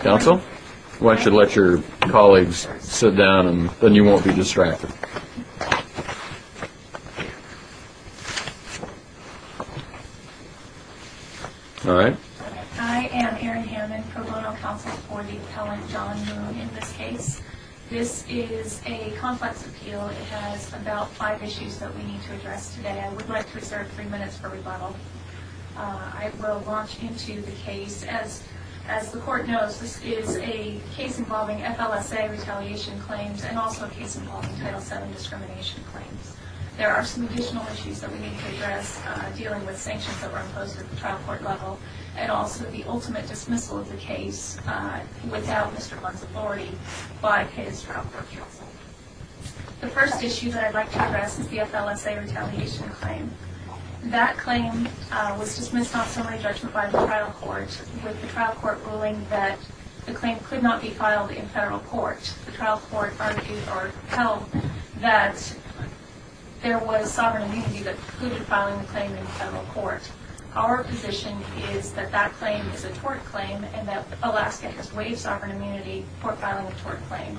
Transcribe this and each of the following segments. Council, why don't you let your colleagues sit down and then you won't be distracted. Alright. I am Erin Hammond, pro bono counsel for the appellant John Moon in this case. This is a complex appeal, it has about five issues that we need to address today. I would like to reserve three minutes for rebuttal. I will launch into the case. As the court knows, this is a case involving FLSA retaliation claims and also a case involving Title VII discrimination claims. There are some additional issues that we need to address dealing with sanctions that were imposed at the trial court level and also the ultimate dismissal of the case without Mr. Blunt's authority by his trial court counsel. The first issue that I would like to address is the FLSA retaliation claim. That claim was dismissed on summary judgment by the trial court with the trial court ruling that the claim could not be filed in federal court. The trial court argued or held that there was sovereign immunity that precluded filing the claim in federal court. Our position is that that claim is a tort claim and that Alaska has waived sovereign immunity for filing a tort claim.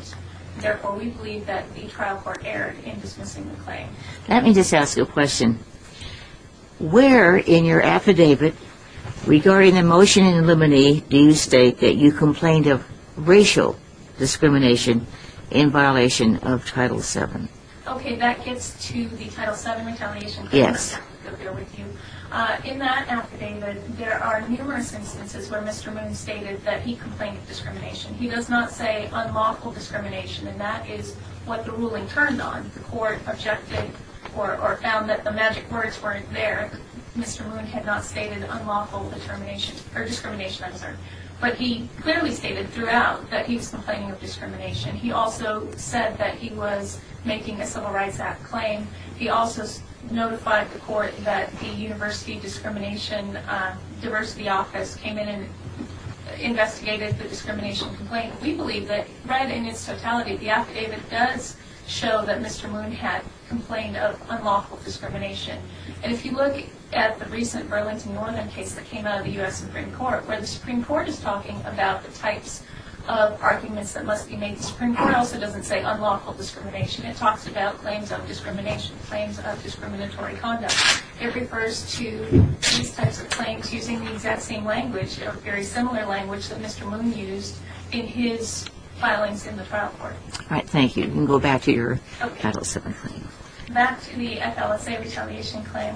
Therefore, we believe that the trial court erred in dismissing the claim. Let me just ask you a question. Where in your affidavit regarding the motion in limine do you state that you complained of racial discrimination in violation of Title VII? Okay, that gets to the Title VII retaliation claim. Yes. In that affidavit, there are numerous instances where Mr. Moon stated that he complained of discrimination. He does not say unlawful discrimination and that is what the ruling turned on. The court objected or found that the magic words weren't there. Mr. Moon had not stated unlawful discrimination. But he clearly stated throughout that he was complaining of discrimination. He also said that he was making a Civil Rights Act claim. He also notified the court that the University Discrimination Diversity Office came in and investigated the discrimination complaint. We believe that right in its totality, the affidavit does show that Mr. Moon had complained of unlawful discrimination. And if you look at the recent Burlington Northern case that came out of the U.S. Supreme Court, where the Supreme Court is talking about the types of arguments that must be made in the Supreme Court, the court also doesn't say unlawful discrimination. It talks about claims of discrimination, claims of discriminatory conduct. It refers to these types of claims using the exact same language, a very similar language that Mr. Moon used in his filings in the trial court. All right, thank you. You can go back to your Title VII claim. Okay. Back to the FLSA retaliation claim.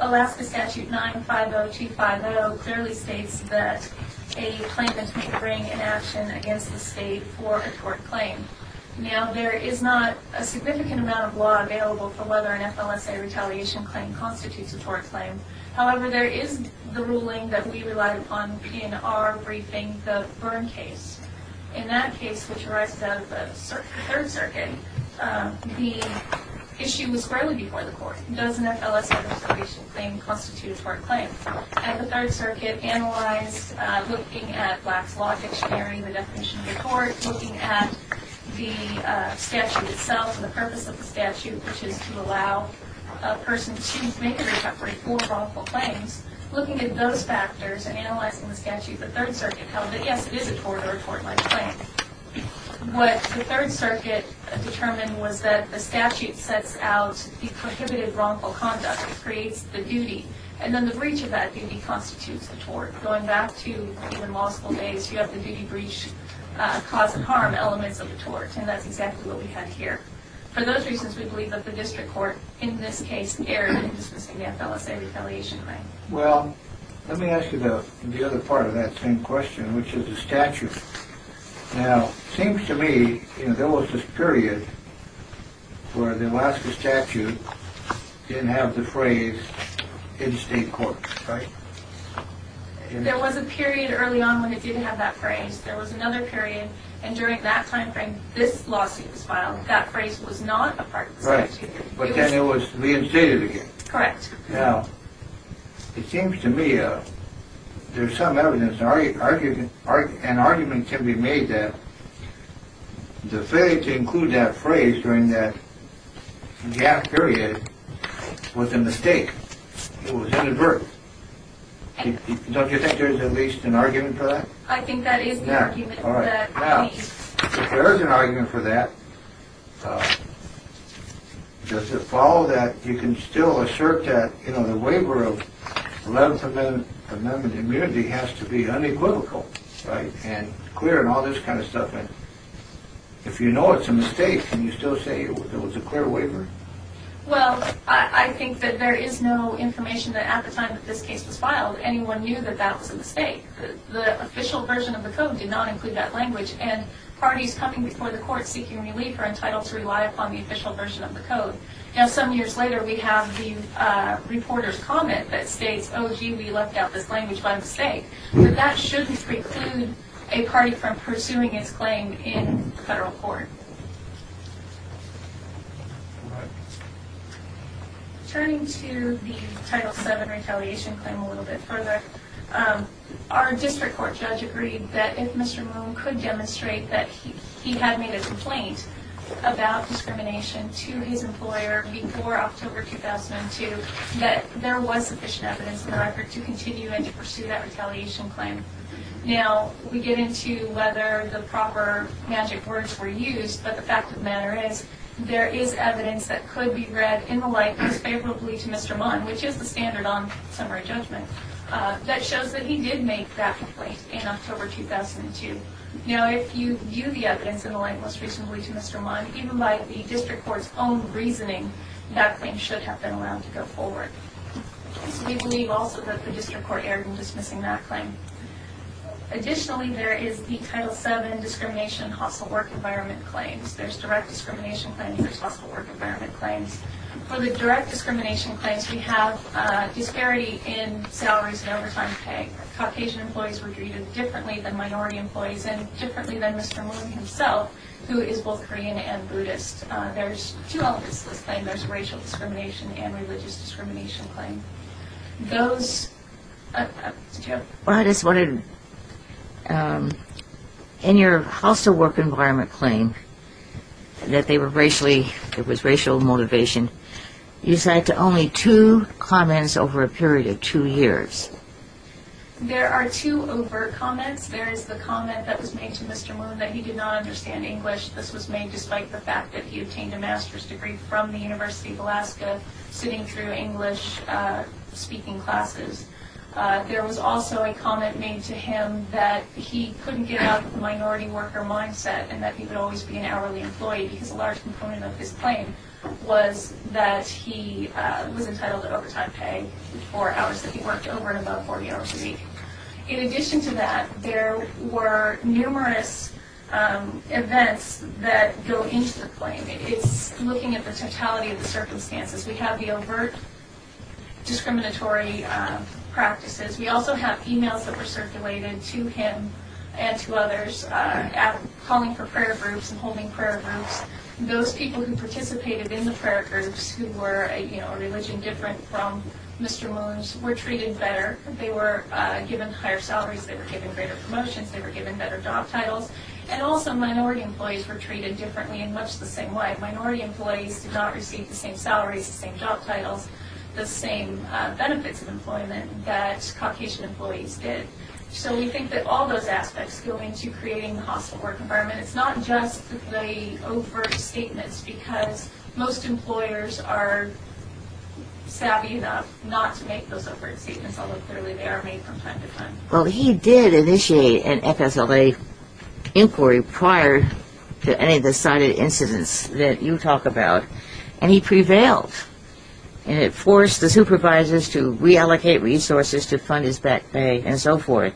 Alaska Statute 950250 clearly states that a claimant may bring an action against the State for a tort claim. Now, there is not a significant amount of law available for whether an FLSA retaliation claim constitutes a tort claim. However, there is the ruling that we relied upon in our briefing, the Byrne case. In that case, which arises out of the Third Circuit, the issue was squarely before the court. Does an FLSA retaliation claim constitute a tort claim? And the Third Circuit analyzed looking at Black's Law Dictionary, the definition of a tort, looking at the statute itself and the purpose of the statute, which is to allow a person to make or interpret four wrongful claims. Looking at those factors and analyzing the statute, the Third Circuit held that, yes, it is a tort or a tort-like claim. What the Third Circuit determined was that the statute sets out the prohibited wrongful conduct. It creates the duty. And then the breach of that duty constitutes the tort. Going back to even law school days, you have the duty, breach, cause of harm elements of the tort. And that's exactly what we had here. For those reasons, we believe that the district court, in this case, erred in dismissing the FLSA retaliation claim. Well, let me ask you the other part of that same question, which is the statute. Now, it seems to me there was this period where the Alaska statute didn't have the phrase in-state court, right? There was a period early on when it didn't have that phrase. There was another period. And during that time frame, this lawsuit was filed. That phrase was not a part of the statute. Right. But then it was reinstated again. Correct. Now, it seems to me there's some evidence, an argument can be made that the failure to include that phrase during that gasp period was a mistake. It was inadvertent. Don't you think there's at least an argument for that? I think that is the argument. Now, if there is an argument for that, does it follow that you can still assert that, you know, the waiver of 11th Amendment immunity has to be unequivocal, right, and clear and all this kind of stuff? And if you know it's a mistake, can you still say it was a clear waiver? Well, I think that there is no information that at the time that this case was filed, anyone knew that that was a mistake. The official version of the code did not include that language. And parties coming before the court seeking relief are entitled to rely upon the official version of the code. Now, some years later, we have the reporter's comment that states, oh, gee, we left out this language by mistake. But that shouldn't preclude a party from pursuing its claim in federal court. All right. Turning to the Title VII retaliation claim a little bit further, our district court judge agreed that if Mr. Moon could demonstrate that he had made a complaint about discrimination to his employer before October 2002, that there was sufficient evidence in the record to continue and to pursue that retaliation claim. Now, we get into whether the proper magic words were used, but the fact of the matter is, there is evidence that could be read in the light most favorably to Mr. Moon, which is the standard on summary judgment, that shows that he did make that complaint in October 2002. Now, if you view the evidence in the light most reasonably to Mr. Moon, even by the district court's own reasoning, that claim should have been allowed to go forward. We believe also that the district court erred in dismissing that claim. Additionally, there is the Title VII discrimination and hostile work environment claims. There's direct discrimination claims. There's hostile work environment claims. For the direct discrimination claims, we have disparity in salaries and overtime pay. Caucasian employees were treated differently than minority employees and differently than Mr. Moon himself, who is both Korean and Buddhist. There's two elements to this claim. There's racial discrimination and religious discrimination claim. Those... Oh, it's a joke. Well, I just wanted to... In your hostile work environment claim, that they were racially, it was racial motivation, you cited only two comments over a period of two years. There are two overt comments. There is the comment that was made to Mr. Moon that he did not understand English. This was made despite the fact that he obtained a master's degree from the University of Alaska, sitting through English-speaking classes. There was also a comment made to him that he couldn't get out of the minority worker mindset and that he would always be an hourly employee because a large component of his claim was that he was entitled to overtime pay for hours that he worked over and above 40 hours a week. In addition to that, there were numerous events that go into the claim. It's looking at the totality of the circumstances. We have the overt discriminatory practices. We also have emails that were circulated to him and to others, calling for prayer groups and holding prayer groups. Those people who participated in the prayer groups who were a religion different from Mr. Moon's were treated better. They were given higher salaries. They were given greater promotions. They were given better job titles. And also minority employees were treated differently in much the same way. Minority employees did not receive the same salaries, the same job titles, the same benefits of employment that Caucasian employees did. So we think that all those aspects go into creating a hostile work environment. It's not just the overt statements because most employers are savvy enough not to make those overt statements, although clearly they are made from time to time. Well, he did initiate an FSLA inquiry prior to any of the cited incidents that you talk about, and he prevailed. And it forced the supervisors to reallocate resources to fund his back pay and so forth.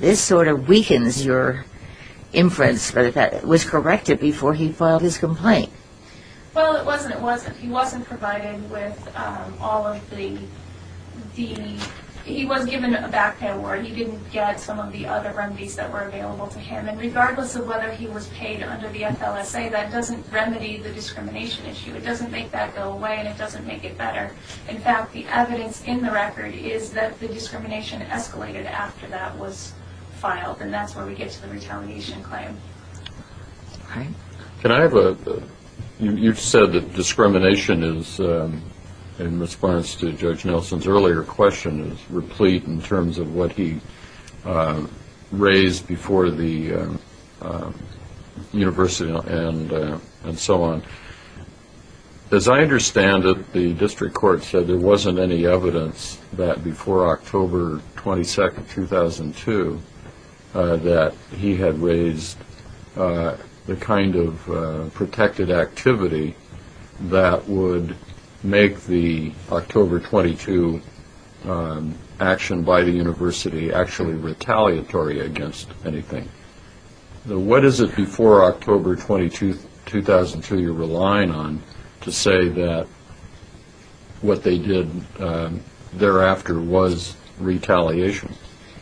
This sort of weakens your inference that that was corrected before he filed his complaint. Well, it wasn't. He wasn't provided with all of the DE. He was given a back pay award. He didn't get some of the other remedies that were available to him. And regardless of whether he was paid under the FLSA, that doesn't remedy the discrimination issue. It doesn't make that go away, and it doesn't make it better. In fact, the evidence in the record is that the discrimination escalated after that was filed, and that's where we get to the retaliation claim. All right. You said that discrimination is, in response to Judge Nelson's earlier question, is replete in terms of what he raised before the university and so on. As I understand it, the district court said there wasn't any evidence that before October 22, 2002, that he had raised the kind of protected activity that would make the October 22 action by the university actually retaliatory against anything. What is it before October 22, 2002, you're relying on to say that what they did thereafter was retaliation?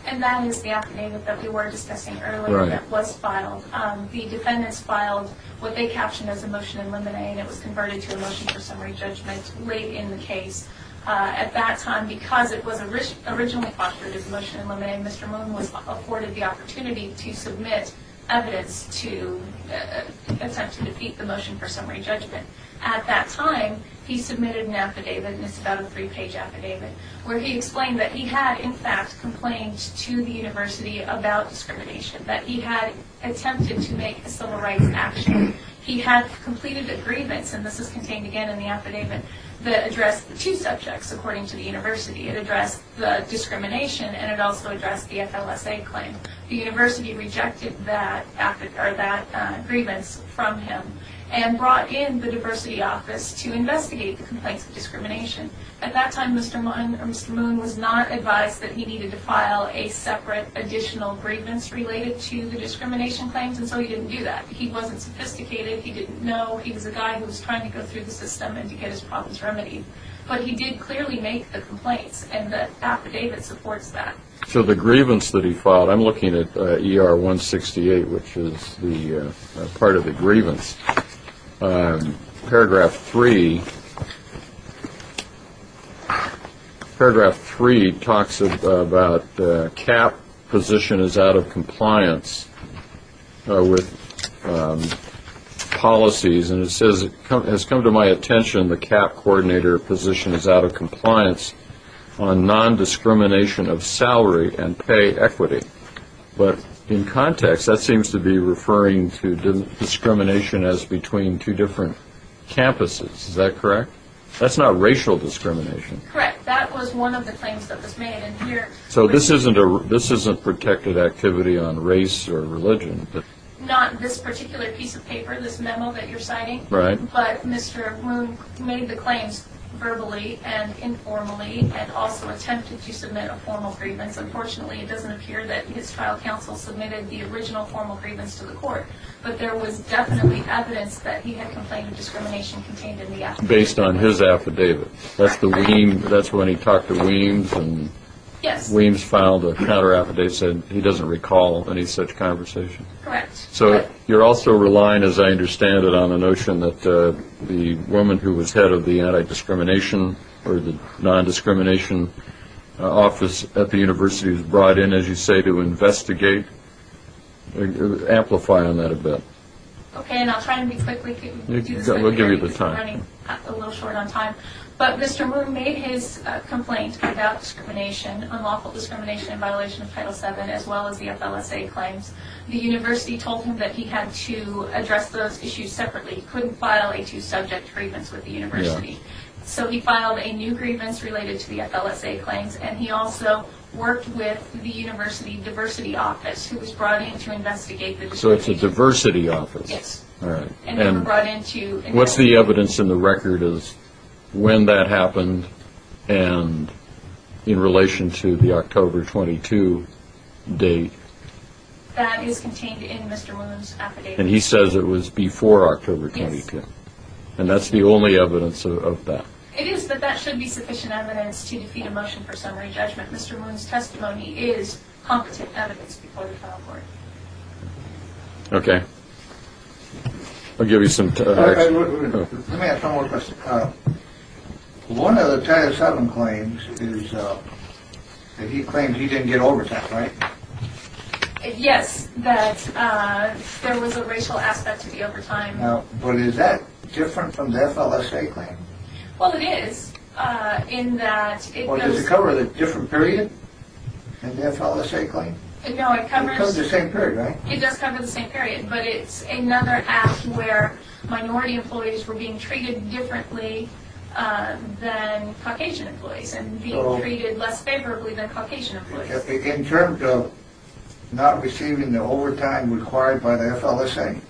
And that is the affidavit that we were discussing earlier that was filed. The defendants filed what they captioned as a motion in limine, and it was converted to a motion for summary judgment late in the case. At that time, because it was originally postured as a motion in limine, Mr. Moon was afforded the opportunity to submit evidence to attempt to defeat the motion for summary judgment. At that time, he submitted an affidavit, and it's about a three-page affidavit, where he explained that he had, in fact, complained to the university about discrimination, that he had attempted to make a civil rights action. He had completed a grievance, and this is contained again in the affidavit, that addressed the two subjects, according to the university. It addressed the discrimination, and it also addressed the FLSA claim. The university rejected that grievance from him, and brought in the diversity office to investigate the complaints of discrimination. At that time, Mr. Moon was not advised that he needed to file a separate additional grievance related to the discrimination claims, and so he didn't do that. He wasn't sophisticated. He didn't know. He was a guy who was trying to go through the system and to get his problems remedied. But he did clearly make the complaints, and the affidavit supports that. So the grievance that he filed, I'm looking at ER 168, which is part of the grievance. Paragraph 3. Paragraph 3 talks about the CAP position is out of compliance with policies, and it says, It has come to my attention the CAP coordinator position is out of compliance on non-discrimination of salary and pay equity. But in context, that seems to be referring to discrimination as between two different campuses. Is that correct? That's not racial discrimination. Correct. That was one of the claims that was made. So this isn't protected activity on race or religion. Not this particular piece of paper, this memo that you're citing. Right. But Mr. Moon made the claims verbally and informally, and also attempted to submit a formal grievance. Unfortunately, it doesn't appear that his trial counsel submitted the original formal grievance to the court. But there was definitely evidence that he had complained of discrimination contained in the affidavit. Based on his affidavit. That's when he talked to Weems. Yes. Weems filed a counter-affidavit saying he doesn't recall any such conversation. Correct. So you're also relying, as I understand it, on a notion that the woman who was head of the anti-discrimination or the non-discrimination office at the university was brought in, as you say, to investigate. Amplify on that a bit. Okay. And I'll try to be quick. We'll give you the time. I'm running a little short on time. But Mr. Moon made his complaint about discrimination, unlawful discrimination in violation of Title VII, as well as the FLSA claims. The university told him that he had to address those issues separately. He couldn't file a two-subject grievance with the university. So he filed a new grievance related to the FLSA claims. And he also worked with the university diversity office, who was brought in to investigate the discrimination. So it's a diversity office. Yes. All right. And they were brought in to investigate. What's the evidence in the record as to when that happened and in relation to the October 22 date? That is contained in Mr. Moon's affidavit. And he says it was before October 22. Yes. And that's the only evidence of that. It is, but that should be sufficient evidence to defeat a motion for summary judgment. Mr. Moon's testimony is competent evidence before the trial court. Okay. I'll give you some time. Let me ask one more question. One of the Title VII claims is that he claims he didn't get overtime, right? Yes, that there was a racial aspect to the overtime. But is that different from the FLSA claim? Well, it is, in that it goes to… Well, does it cover the different period in the FLSA claim? No, it covers… It covers the same period, right? It does cover the same period, but it's another act where minority employees were being treated differently than Caucasian employees and being treated less favorably than Caucasian employees. In terms of not receiving the overtime required by the FLSA,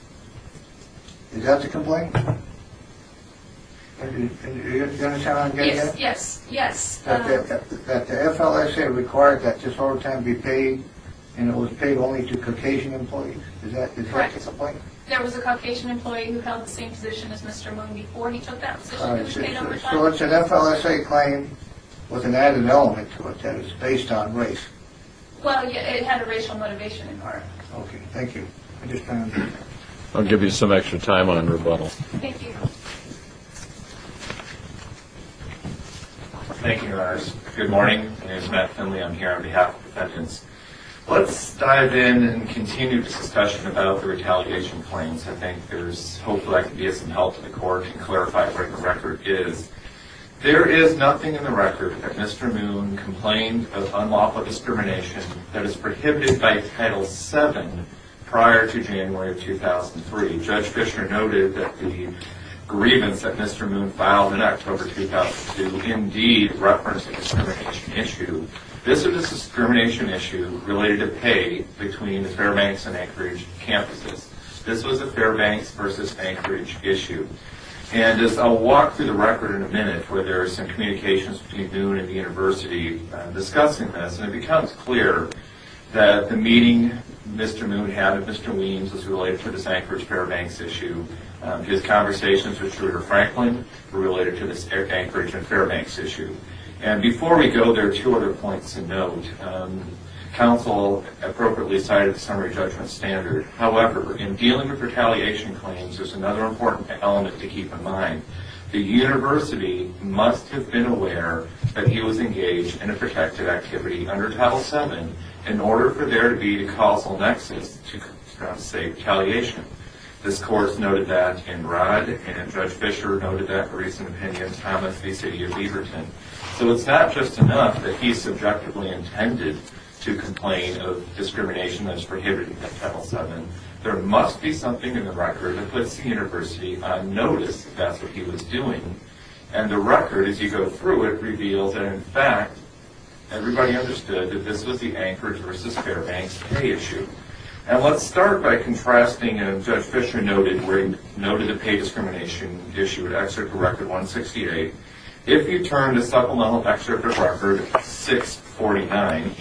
is that the complaint? Are you going to challenge that? Yes, yes. That the FLSA required that this overtime be paid and it was paid only to Caucasian employees? Is that the point? Correct. There was a Caucasian employee who held the same position as Mr. Moon before he took that position. So it's an FLSA claim with an added element to it that is based on race? Well, it had a racial motivation in part. Okay, thank you. I'll give you some extra time on rebuttal. Thank you. Thank you, Your Honors. Good morning. My name is Matt Finley. I'm here on behalf of defendants. Let's dive in and continue this discussion about the retaliation claims. I think there's hopefully I can be of some help to the Court and clarify where the record is. There is nothing in the record that Mr. Moon complained of unlawful discrimination that is prohibited by Title VII prior to January of 2003. Judge Fischer noted that the grievance that Mr. Moon filed in October 2002 indeed referenced a discrimination issue. This is a discrimination issue related to pay between the Fairbanks and Anchorage campuses. This was a Fairbanks versus Anchorage issue. And I'll walk through the record in a minute where there are some communications between Moon and the University discussing this. And it becomes clear that the meeting Mr. Moon had with Mr. Weems was related to this Anchorage-Fairbanks issue. His conversations with Trudy Franklin were related to this Anchorage and Fairbanks issue. And before we go, there are two other points to note. Counsel appropriately cited the summary judgment standard. However, in dealing with retaliation claims, there's another important element to keep in mind. The University must have been aware that he was engaged in a protective activity under Title VII in order for there to be a causal nexus to, say, retaliation. This Court noted that in Rudd, and Judge Fischer noted that in a recent opinion of Thomas v. City of Leverton. So it's not just enough that he subjectively intended to complain of discrimination that is prohibited under Title VII. There must be something in the record that puts the University on notice that that's what he was doing. And the record, as you go through it, reveals that, in fact, everybody understood that this was the Anchorage versus Fairbanks pay issue. And let's start by contrasting, and Judge Fischer noted the pay discrimination issue at Excerpt of Record 168. If you turn to supplemental Excerpt of Record 649,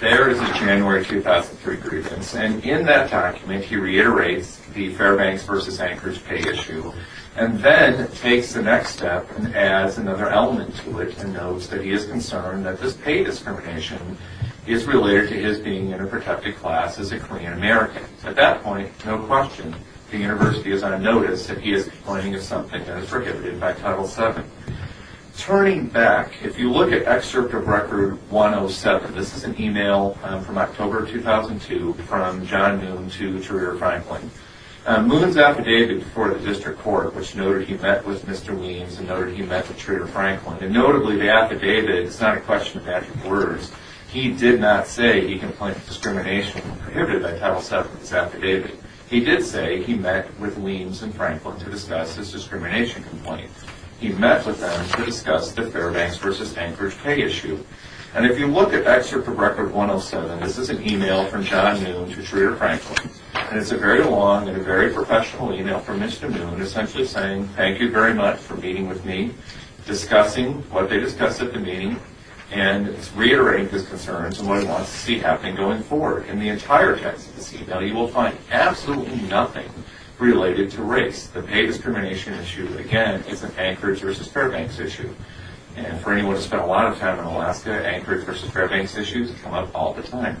there is a January 2003 grievance. And in that document, he reiterates the Fairbanks versus Anchorage pay issue, and then takes the next step and adds another element to it and notes that he is concerned that this pay discrimination is related to his being in a protective class as a Korean American. So at that point, no question, the University is on notice that he is complaining of something that is prohibited by Title VII. Turning back, if you look at Excerpt of Record 107, this is an email from October 2002 from John Moon to Trader Franklin. Moon's affidavit before the District Court, which noted he met with Mr. Weems and noted he met with Trader Franklin, and notably the affidavit, it's not a question of abject words, he did not say he complained of discrimination prohibited by Title VII in his affidavit. He did say he met with Weems and Franklin to discuss his discrimination complaint. He met with them to discuss the Fairbanks versus Anchorage pay issue. And if you look at Excerpt of Record 107, this is an email from John Moon to Trader Franklin, and it's a very long and a very professional email from Mr. Moon essentially saying, thank you very much for meeting with me, discussing what they discussed at the meeting, and reiterating his concerns and what he wants to see happen going forward. In the entire text of this email, you will find absolutely nothing related to race, the pay discrimination issue. Again, it's an Anchorage versus Fairbanks issue. And for anyone who's spent a lot of time in Alaska, Anchorage versus Fairbanks issues come up all the time.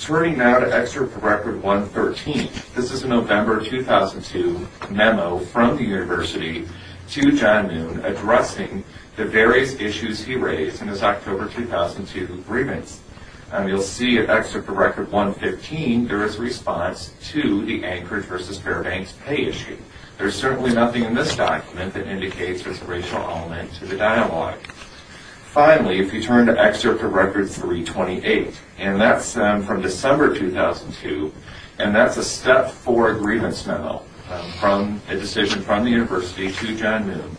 Turning now to Excerpt of Record 113, this is a November 2002 memo from the university to John Moon addressing the various issues he raised in his October 2002 grievance. And you'll see at Excerpt of Record 115, there is a response to the Anchorage versus Fairbanks pay issue. There's certainly nothing in this document that indicates there's a racial element to the dialogue. Finally, if you turn to Excerpt of Record 328, and that's from December 2002, and that's a step four grievance memo from a decision from the university to John Moon.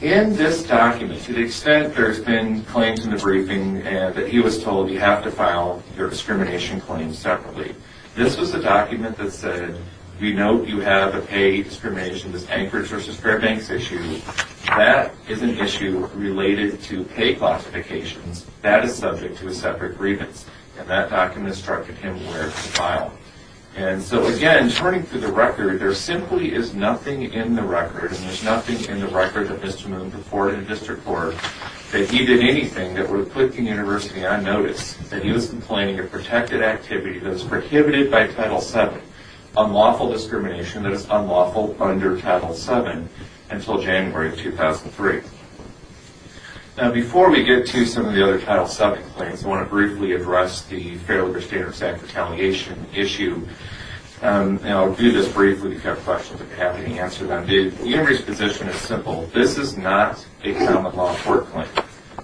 In this document, to the extent there's been claims in the briefing that he was told, you have to file your discrimination claims separately, this was the document that said, we note you have a pay discrimination, this Anchorage versus Fairbanks issue. That is an issue related to pay classifications. That is subject to a separate grievance. And that document instructed him where to file. And so, again, turning to the record, there simply is nothing in the record, and there's nothing in the record of Mr. Moon before the district court, that he did anything that would put the university on notice, that he was complaining of protected activity that was prohibited by Title VII, unlawful discrimination that is unlawful under Title VII until January 2003. Now, before we get to some of the other Title VII claims, I want to briefly address the Fair Labor Standards Act retaliation issue. And I'll do this briefly, if you have questions, I'd be happy to answer them. The university's position is simple. This is not a common law court claim.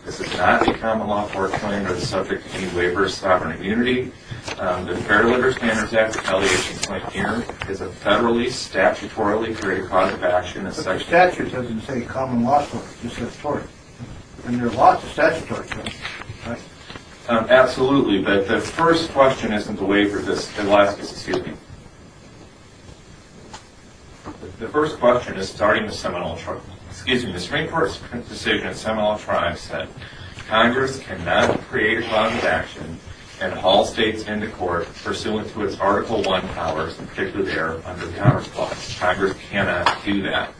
This is not a common law court claim that is subject to any waiver of sovereign immunity. The Fair Labor Standards Act retaliation claim here is a federally, statutorily created cause of action. But the statute doesn't say common law court. It just says tort. And there are lots of statutory claims, right? Absolutely, but the first question isn't the waiver. The first question is starting the Seminole Tribe. The Supreme Court's decision in the Seminole Tribe said, Congress cannot create a cause of action and haul states into court pursuant to its Article I powers, particularly there under the Congress clause. Congress cannot do that.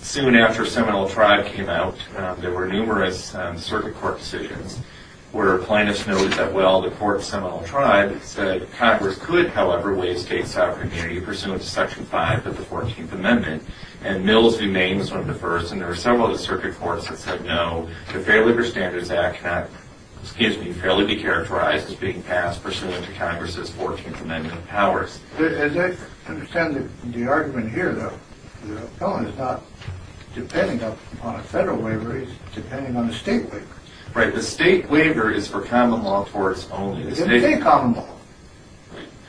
Soon after Seminole Tribe came out, there were numerous circuit court decisions where plaintiffs noted that, well, the court of Seminole Tribe said, Congress could, however, waive state sovereign immunity pursuant to Section 5 of the 14th Amendment. And Mills v. Maine was one of the first. And there were several of the circuit courts that said no. The Fair Labor Standards Act cannot, excuse me, fairly be characterized as being passed pursuant to Congress's 14th Amendment powers. As I understand the argument here, though, the appellant is not depending upon a federal waiver. He's depending on a state waiver. Right. The state waiver is for common law torts only. It doesn't say common law.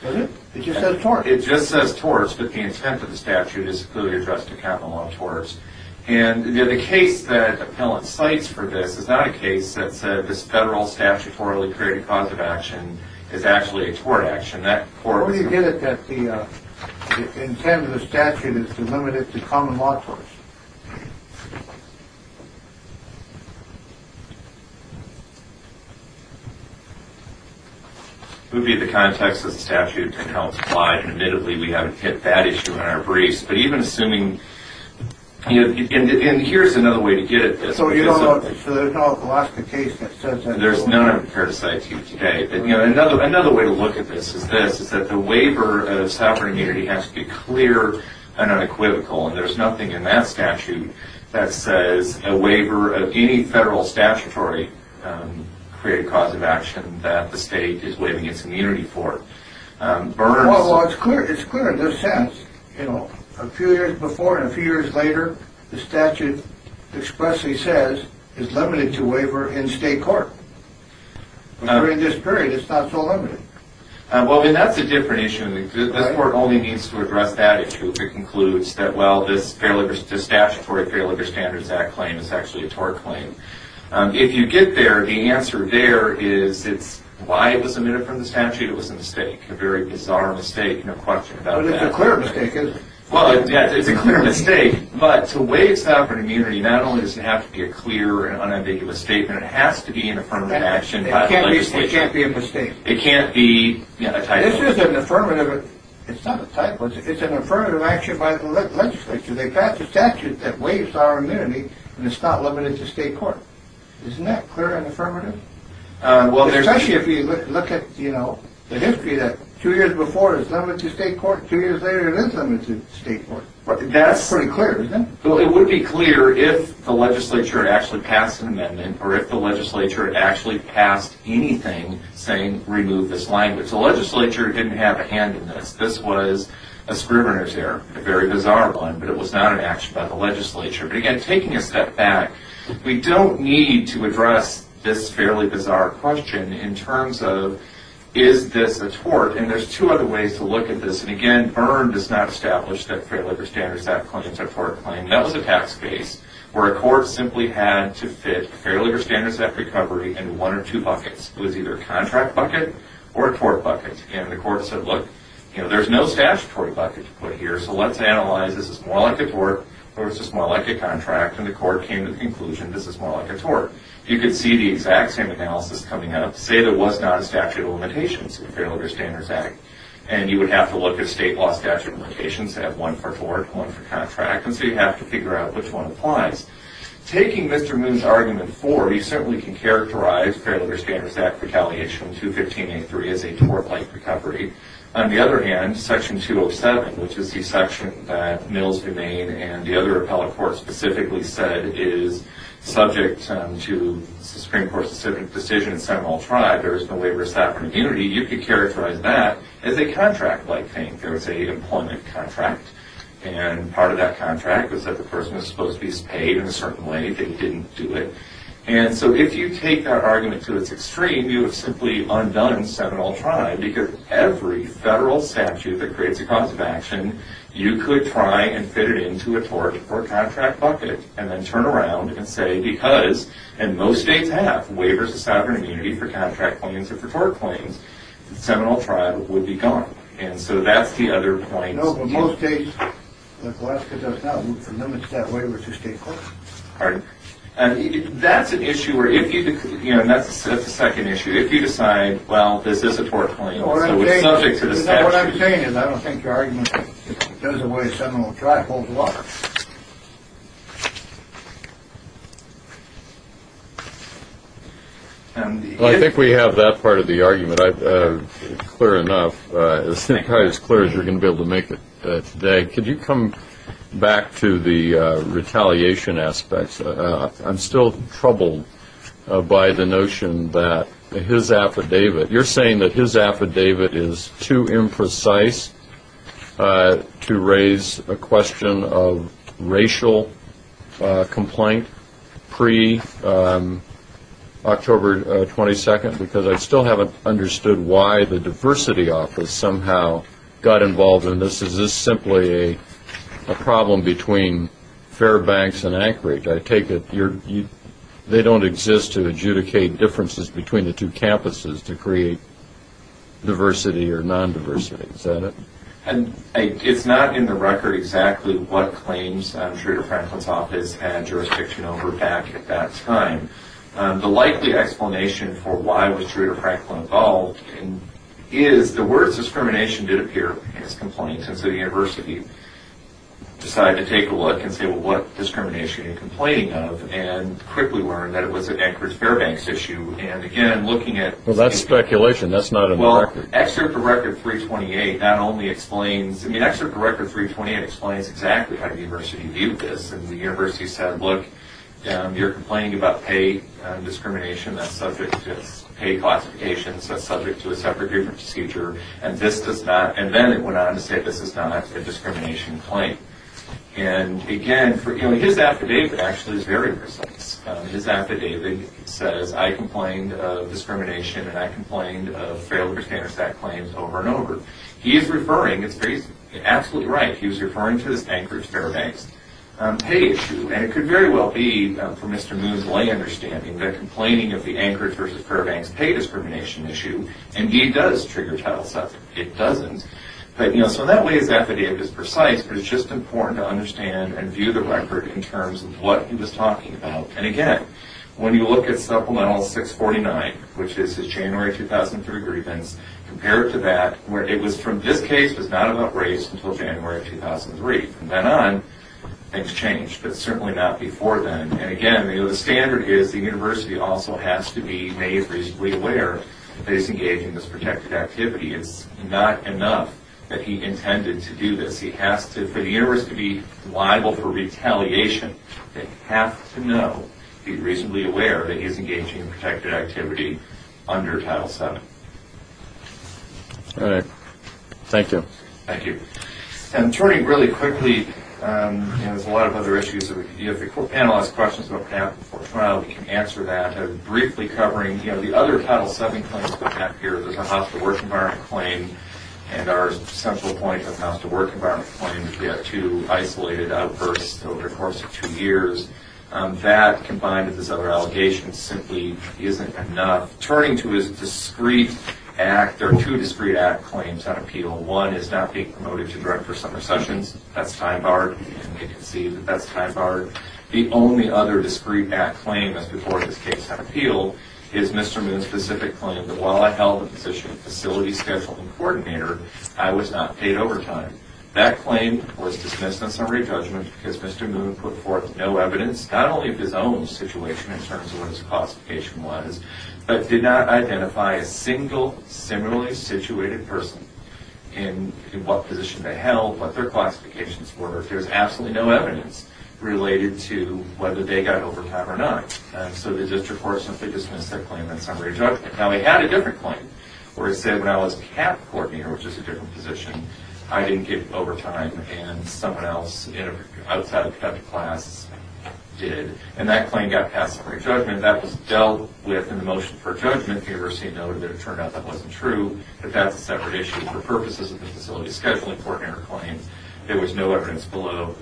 Does it? It just says tort. It just says tort, but the intent of the statute is clearly addressed to common law torts. And the case that the appellant cites for this is not a case that said this federal statutorily created cause of action is actually a tort action. That court was... Well, we get it that the intent of the statute is to limit it to common law torts. It would be the context of the statute and how it's applied. And admittedly, we haven't hit that issue in our briefs. But even assuming... And here's another way to get at this. So there's no Alaska case that says that? There's none I'm prepared to cite to you today. But another way to look at this is this, is that the waiver of sovereign immunity has to be clear and unequivocal. And there's nothing in that statute that says a waiver of any federal statutory created cause of action that the state is waiving its immunity for. Burns... Well, it's clear in this sense. You know, a few years before and a few years later, the statute expressly says it's limited to waiver in state court. During this period, it's not so limited. Well, then that's a different issue. This court only needs to address that issue if it concludes that, well, this statutory Fair Labor Standards Act claim is actually a tort claim. If you get there, the answer there is it's why it was omitted from the statute. It was a mistake. A very bizarre mistake. No question about that. But it's a clear mistake, isn't it? Well, yeah, it's a clear mistake. But to waive sovereign immunity, not only does it have to be a clear and unambiguous statement, it has to be an affirmative action by the legislature. It can't be a mistake. It can't be a title. This is an affirmative. It's not a title. It's an affirmative action by the legislature. They passed a statute that waives our immunity, and it's not limited to state court. Isn't that clear and affirmative? Especially if you look at the history that two years before it was limited to state court, two years later it is limited to state court. That's pretty clear, isn't it? Well, it would be clear if the legislature had actually passed an amendment or if the legislature had actually passed anything saying remove this language. The legislature didn't have a hand in this. This was a scrivener's error, a very bizarre one, but it was not an action by the legislature. But, again, taking a step back, we don't need to address this fairly bizarre question in terms of is this a tort? And there's two other ways to look at this. And, again, VIRM does not establish that fair labor standards act claims are tort claims. That was a tax case where a court simply had to fit a fair labor standards act recovery in one or two buckets. It was either a contract bucket or a tort bucket. And the court said, look, there's no statutory bucket to put here, so let's analyze, is this more like a tort or is this more like a contract? And the court came to the conclusion this is more like a tort. You can see the exact same analysis coming up. Say there was not a statute of limitations in the Fair Labor Standards Act, and you would have to look at state law statute of limitations, have one for tort, one for contract, and so you have to figure out which one applies. Taking Mr. Moon's argument forward, you certainly can characterize fair labor standards act retaliation 215.83 as a tort-like recovery. On the other hand, Section 207, which is the section that Mills, Humane, and the other appellate courts specifically said is subject to Supreme Court-specific decision, Sentinel Tribe, there is no labor statute of immunity, you could characterize that as a contract-like thing. There was a employment contract, and part of that contract was that the person was supposed to be paid in a certain way, they didn't do it. And so if you take that argument to its extreme, you have simply undone Sentinel Tribe because every federal statute that creates a cause of action, you could try and fit it into a tort or contract bucket, and then turn around and say because, and most states have, waivers of sovereign immunity for contract claims or for tort claims, Sentinel Tribe would be gone. And so that's the other point. No, but most states, like Alaska does now, for them it's that waiver to state courts. Pardon? That's an issue where if you could, and that's the second issue, if you decide, well, this is a tort claim, so it's subject to the statute. What I'm saying is I don't think your argument goes away if Sentinel Tribe holds water. Well, I think we have that part of the argument clear enough, probably as clear as you're going to be able to make it today. Could you come back to the retaliation aspects? I'm still troubled by the notion that his affidavit, you're saying that his affidavit is too imprecise to raise a question of racial complaint pre-October 22nd, because I still haven't understood why the diversity office somehow got involved in this. Is this simply a problem between Fairbanks and Anchorage? I take it they don't exist to adjudicate differences between the two campuses to create diversity or non-diversity. Is that it? It's not in the record exactly what claims Truder Franklin's office had jurisdiction over back at that time. The likely explanation for why was Truder Franklin involved is the words discrimination did appear as complaints, and so the university decided to take a look and say, well, what discrimination are you complaining of, and quickly learned that it was an Anchorage-Fairbanks issue, and again, looking at... Well, that's speculation. That's not in the record. Well, Excerpt of Record 328 not only explains... I mean, Excerpt of Record 328 explains exactly how the university viewed this. And the university said, look, you're complaining about pay discrimination. That's subject to pay classifications. That's subject to a separate different procedure. And this does not... And then it went on to say this is not a discrimination claim. And, again, his affidavit actually is very precise. His affidavit says, I complained of discrimination, and I complained of failed percentage of claims over and over. He is referring... He's absolutely right. He was referring to this Anchorage-Fairbanks pay issue, and it could very well be, from Mr. Moon's lay understanding, that complaining of the Anchorage-versus-Fairbanks pay discrimination issue indeed does trigger Title VII. It doesn't. But, you know, so that way his affidavit is precise, but it's just important to understand and view the record in terms of what he was talking about. And, again, when you look at Supplemental 649, which is his January 2003 grievance, compared to that, it was from... This case was not about race until January 2003. From then on, things changed, but certainly not before then. And, again, the standard is the university also has to be made reasonably aware that he's engaging in this protected activity. It's not enough that he intended to do this. He has to... For the university to be liable for retaliation, they have to know, be reasonably aware that he's engaging in protected activity under Title VII. All right. Thank you. Thank you. And turning really quickly, you know, there's a lot of other issues. If the panel has questions about Penalty 412, we can answer that. I'm briefly covering, you know, the other Title VII claims that have appeared. There's a house-to-work environment claim, and our central point of house-to-work environment claims, we have two isolated outbursts over the course of two years. That, combined with his other allegations, simply isn't enough. Turning to his discreet act, there are two discreet act claims on appeal. One is not being promoted to director for summer sessions. That's tie-barred, and we can see that that's tie-barred. The only other discreet act claim, as before this case had appealed, is Mr. Moon's specific claim that, while I held the position of facility scheduling coordinator, I was not paid overtime. That claim was dismissed in summary judgment because Mr. Moon put forth no evidence, not only of his own situation in terms of what his classification was, but did not identify a single similarly situated person in what position they held, what their classifications were. There's absolutely no evidence related to whether they got overtime or not. So the district court simply dismissed that claim in summary judgment. Now, he had a different claim where he said, when I was cap coordinator, which is a different position, I didn't get overtime and someone else outside of cap class did. And that claim got passed in summary judgment. That was dealt with in the motion for judgment. The university noted that it turned out that wasn't true, that that's a separate issue. For purposes of the facility scheduling coordinator claim, there was no evidence below.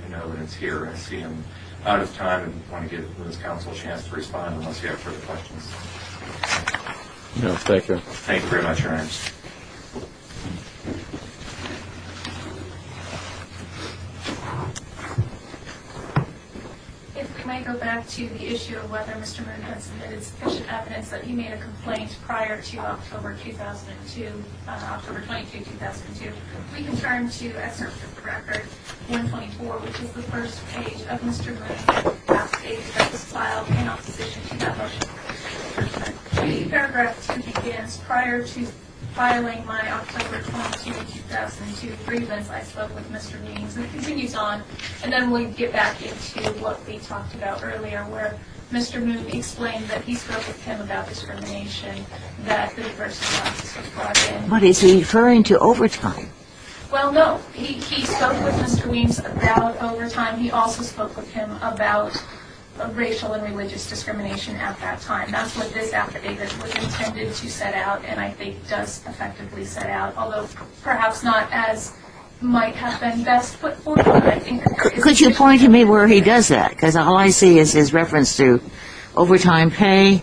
I see I'm out of time and want to give Ms. Counsel a chance to respond unless you have further questions. No, thank you. Thank you very much, Your Honor. If we might go back to the issue of whether Mr. Moon had submitted sufficient evidence that he made a complaint prior to October 2002, October 22, 2002, we can turn to excerpt from the record, 124, which is the first page of Mr. Moon's last page that was filed in opposition to that motion. The paragraph 2 begins, Prior to filing my October 22, 2002 grievance, I spoke with Mr. Means, and it continues on. And then we get back into what we talked about earlier, where Mr. Moon explained that he spoke with him about discrimination that the University of Rochester brought in. But is he referring to overtime? Well, no. He spoke with Mr. Means about overtime. He also spoke with him about racial and religious discrimination at that time. That's what this affidavit was intended to set out and I think does effectively set out, although perhaps not as might have been best put forward. Could you point to me where he does that? Because all I see is his reference to overtime pay,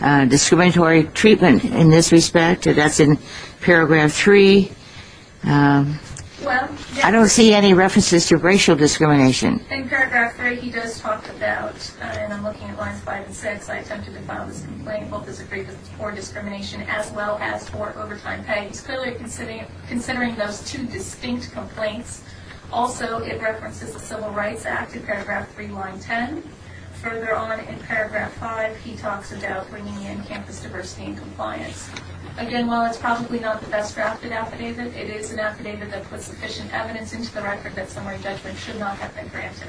discriminatory treatment in this respect. That's in paragraph 3. I don't see any references to racial discrimination. In paragraph 3, he does talk about, and I'm looking at lines 5 and 6, I attempted to file this complaint both as a grievance for discrimination as well as for overtime pay. He's clearly considering those two distinct complaints. Also, it references the Civil Rights Act in paragraph 3, line 10. Further on in paragraph 5, he talks about bringing in campus diversity and compliance. Again, while it's probably not the best drafted affidavit, it is an affidavit that puts sufficient evidence into the record that summary judgment should not have been granted.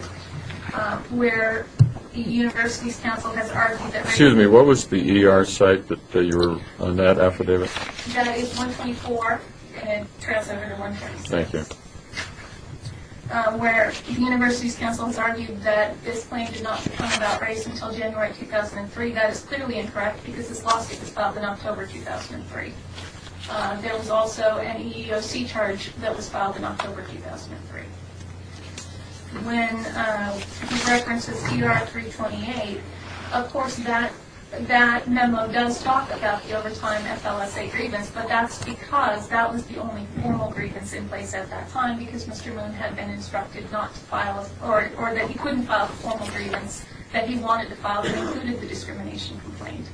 Where the University's counsel has argued that Excuse me. What was the ER site that you were on that affidavit? That is 124 and transfer to 146. Thank you. Where the University's counsel has argued that this claim did not become about race until January 2003, that is clearly incorrect because this lawsuit was filed in October 2003. There was also an EEOC charge that was filed in October 2003. When he references ER 328, of course that memo does talk about the overtime FLSA grievance, but that's because that was the only formal grievance in place at that time because Mr. Moon had been instructed not to file, or that he couldn't file the formal grievance that he wanted to file that included the discrimination complaint.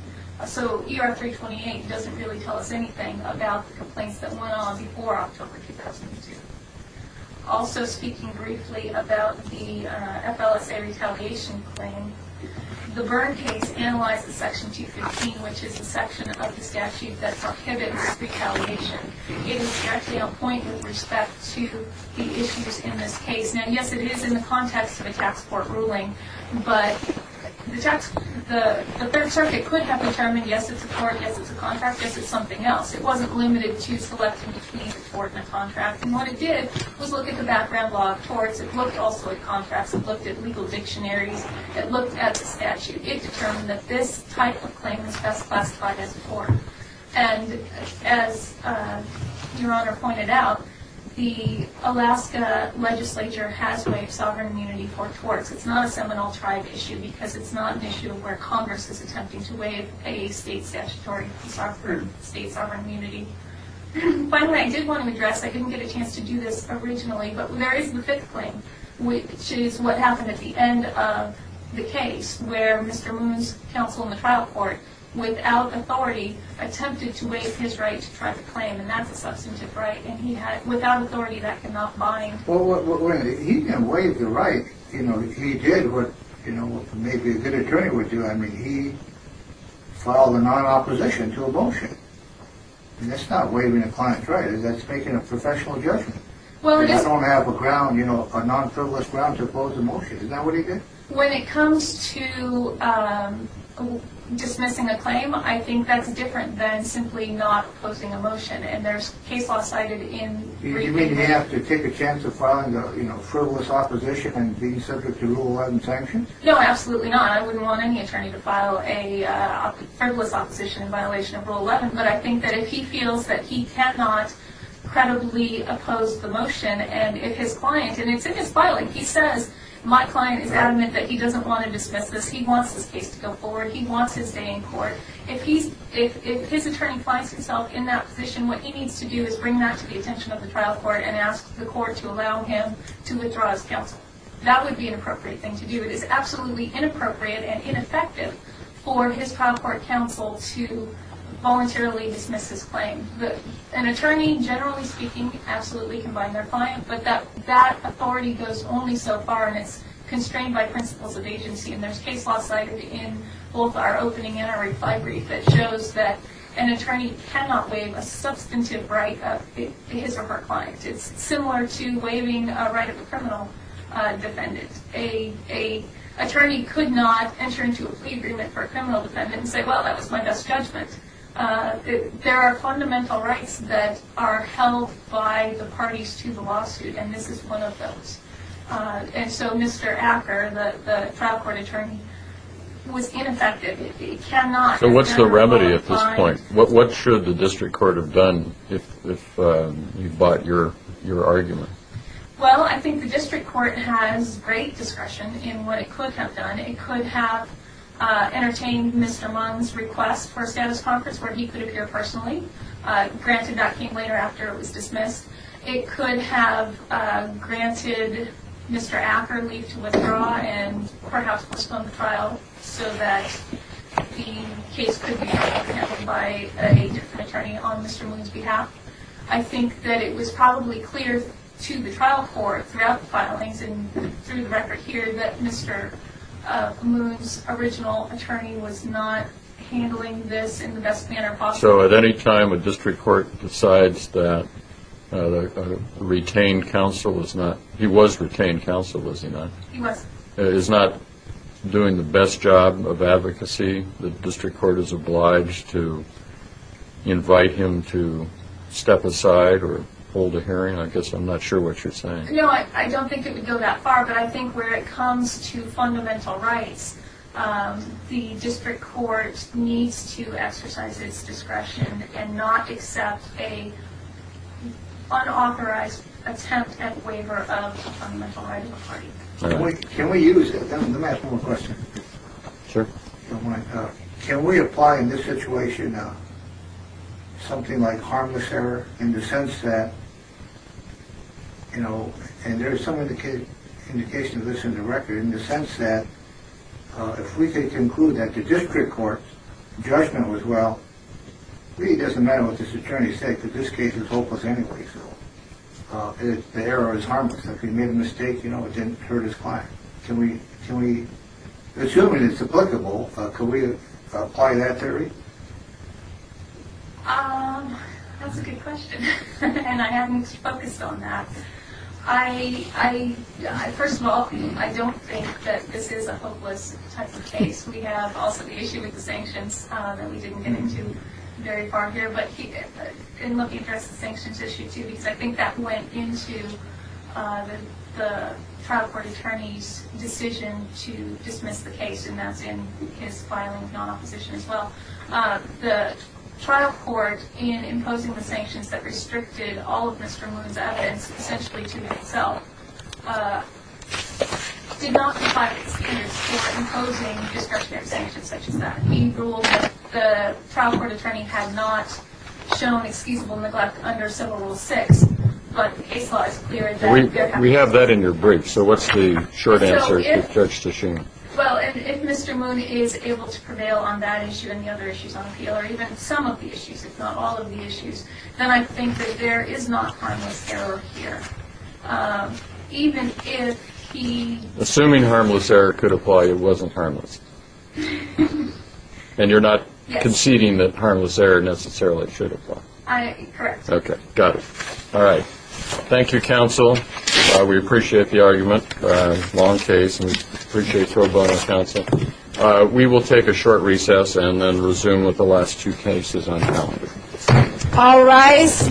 So ER 328 doesn't really tell us anything about the complaints that went on before October 2002. Also speaking briefly about the FLSA retaliation claim, the Byrne case analyzed the section 215, which is the section of the statute that prohibits retaliation. It is actually on point with respect to the issues in this case. Now, yes, it is in the context of a tax court ruling, but the Third Circuit could have determined, yes, it's a tort, yes, it's a contract, yes, it's something else. It wasn't limited to selecting between a tort and a contract. And what it did was look at the background law of torts. It looked also at contracts. It looked at legal dictionaries. It looked at the statute. It determined that this type of claim was best classified as a tort. And as Your Honor pointed out, the Alaska legislature has waived sovereign immunity for torts. It's not a Seminole tribe issue because it's not an issue where Congress is attempting to waive a state statutory to prove state sovereign immunity. Finally, I did want to address, I didn't get a chance to do this originally, but there is the fifth claim, which is what happened at the end of the case where Mr. Moon's counsel in the trial court, without authority, attempted to waive his right to try the claim, and that's a substantive right, and without authority that cannot bind. Well, he didn't waive the right. He did what maybe a good attorney would do. I mean, he filed a non-opposition to a motion. And that's not waiving a client's right. That's making a professional judgment. You don't have a ground, you know, a non-frivolous ground to oppose a motion. Isn't that what he did? When it comes to dismissing a claim, I think that's different than simply not opposing a motion, and there's case law cited in... You mean you have to take a chance of filing a frivolous opposition and being subject to Rule 11 sanctions? No, absolutely not. I wouldn't want any attorney to file a frivolous opposition in violation of Rule 11, but I think that if he feels that he cannot credibly oppose the motion, and if his client, and it's in his filing, if he says, my client is adamant that he doesn't want to dismiss this, he wants this case to go forward, he wants his day in court, if his attorney finds himself in that position, what he needs to do is bring that to the attention of the trial court and ask the court to allow him to withdraw his counsel. That would be an appropriate thing to do. It is absolutely inappropriate and ineffective for his trial court counsel to voluntarily dismiss his claim. An attorney, generally speaking, absolutely can bind their client, but that authority goes only so far, and it's constrained by principles of agency, and there's case law cited in both our opening and our reply brief that shows that an attorney cannot waive a substantive right of his or her client. It's similar to waiving a right of a criminal defendant. An attorney could not enter into a plea agreement for a criminal defendant and say, well, that was my best judgment. There are fundamental rights that are held by the parties to the lawsuit, and this is one of those. And so Mr. Acker, the trial court attorney, was ineffective. He cannot, as a general rule, bind... So what's the remedy at this point? What should the district court have done if you bought your argument? Well, I think the district court has great discretion in what it could have done. It could have entertained Mr. Mung's request for a status conference where he could appear personally. Granted, that came later after it was dismissed. It could have granted Mr. Acker leave to withdraw and perhaps postpone the trial so that the case could be handled by a different attorney on Mr. Mung's behalf. I think that it was probably clear to the trial court throughout the filings and through the record here that Mr. Mung's original attorney was not handling this in the best manner possible. So at any time a district court decides that a retained counsel is not... He was retained counsel, was he not? He was. Is not doing the best job of advocacy, the district court is obliged to invite him to step aside or hold a hearing? I guess I'm not sure what you're saying. No, I don't think it would go that far, but I think where it comes to fundamental rights, the district court needs to exercise its discretion and not accept an unauthorized attempt at waiver of a fundamental right of a party. Can we use it? Let me ask one more question. Can we apply in this situation something like harmless error in the sense that, you know, and there's some indication of this in the record, in the sense that if we can conclude that the district court's judgment was, well, it really doesn't matter what this attorney said because this case is hopeless anyway, so the error is harmless. If he made a mistake, you know, it didn't hurt his client. Can we, assuming it's applicable, can we apply that theory? That's a good question, and I haven't focused on that. First of all, I don't think that this is a hopeless type of case. We have also the issue with the sanctions that we didn't get into very far here, but I've been looking at the sanctions issue too because I think that went into the trial court attorney's decision to dismiss the case, and that's in his filing of non-opposition as well. The trial court, in imposing the sanctions that restricted all of Mr. Moon's evidence, essentially to himself, did not provide an excuse for imposing discretionary sanctions such as that. He ruled that the trial court attorney had not shown excusable neglect under Civil Rule 6, but the case law is clear that there has been. We have that in your brief, so what's the short answer you've judged to show? Well, if Mr. Moon is able to prevail on that issue and the other issues on appeal, or even some of the issues if not all of the issues, then I think that there is not harmless error here, even if he... Assuming harmless error could apply, it wasn't harmless. And you're not conceding that harmless error necessarily should apply. Correct. Okay, got it. All right. Thank you, counsel. We appreciate the argument. Long case, and we appreciate your bonus, counsel. We will take a short recess and then resume with the last two cases on calendar. All rise.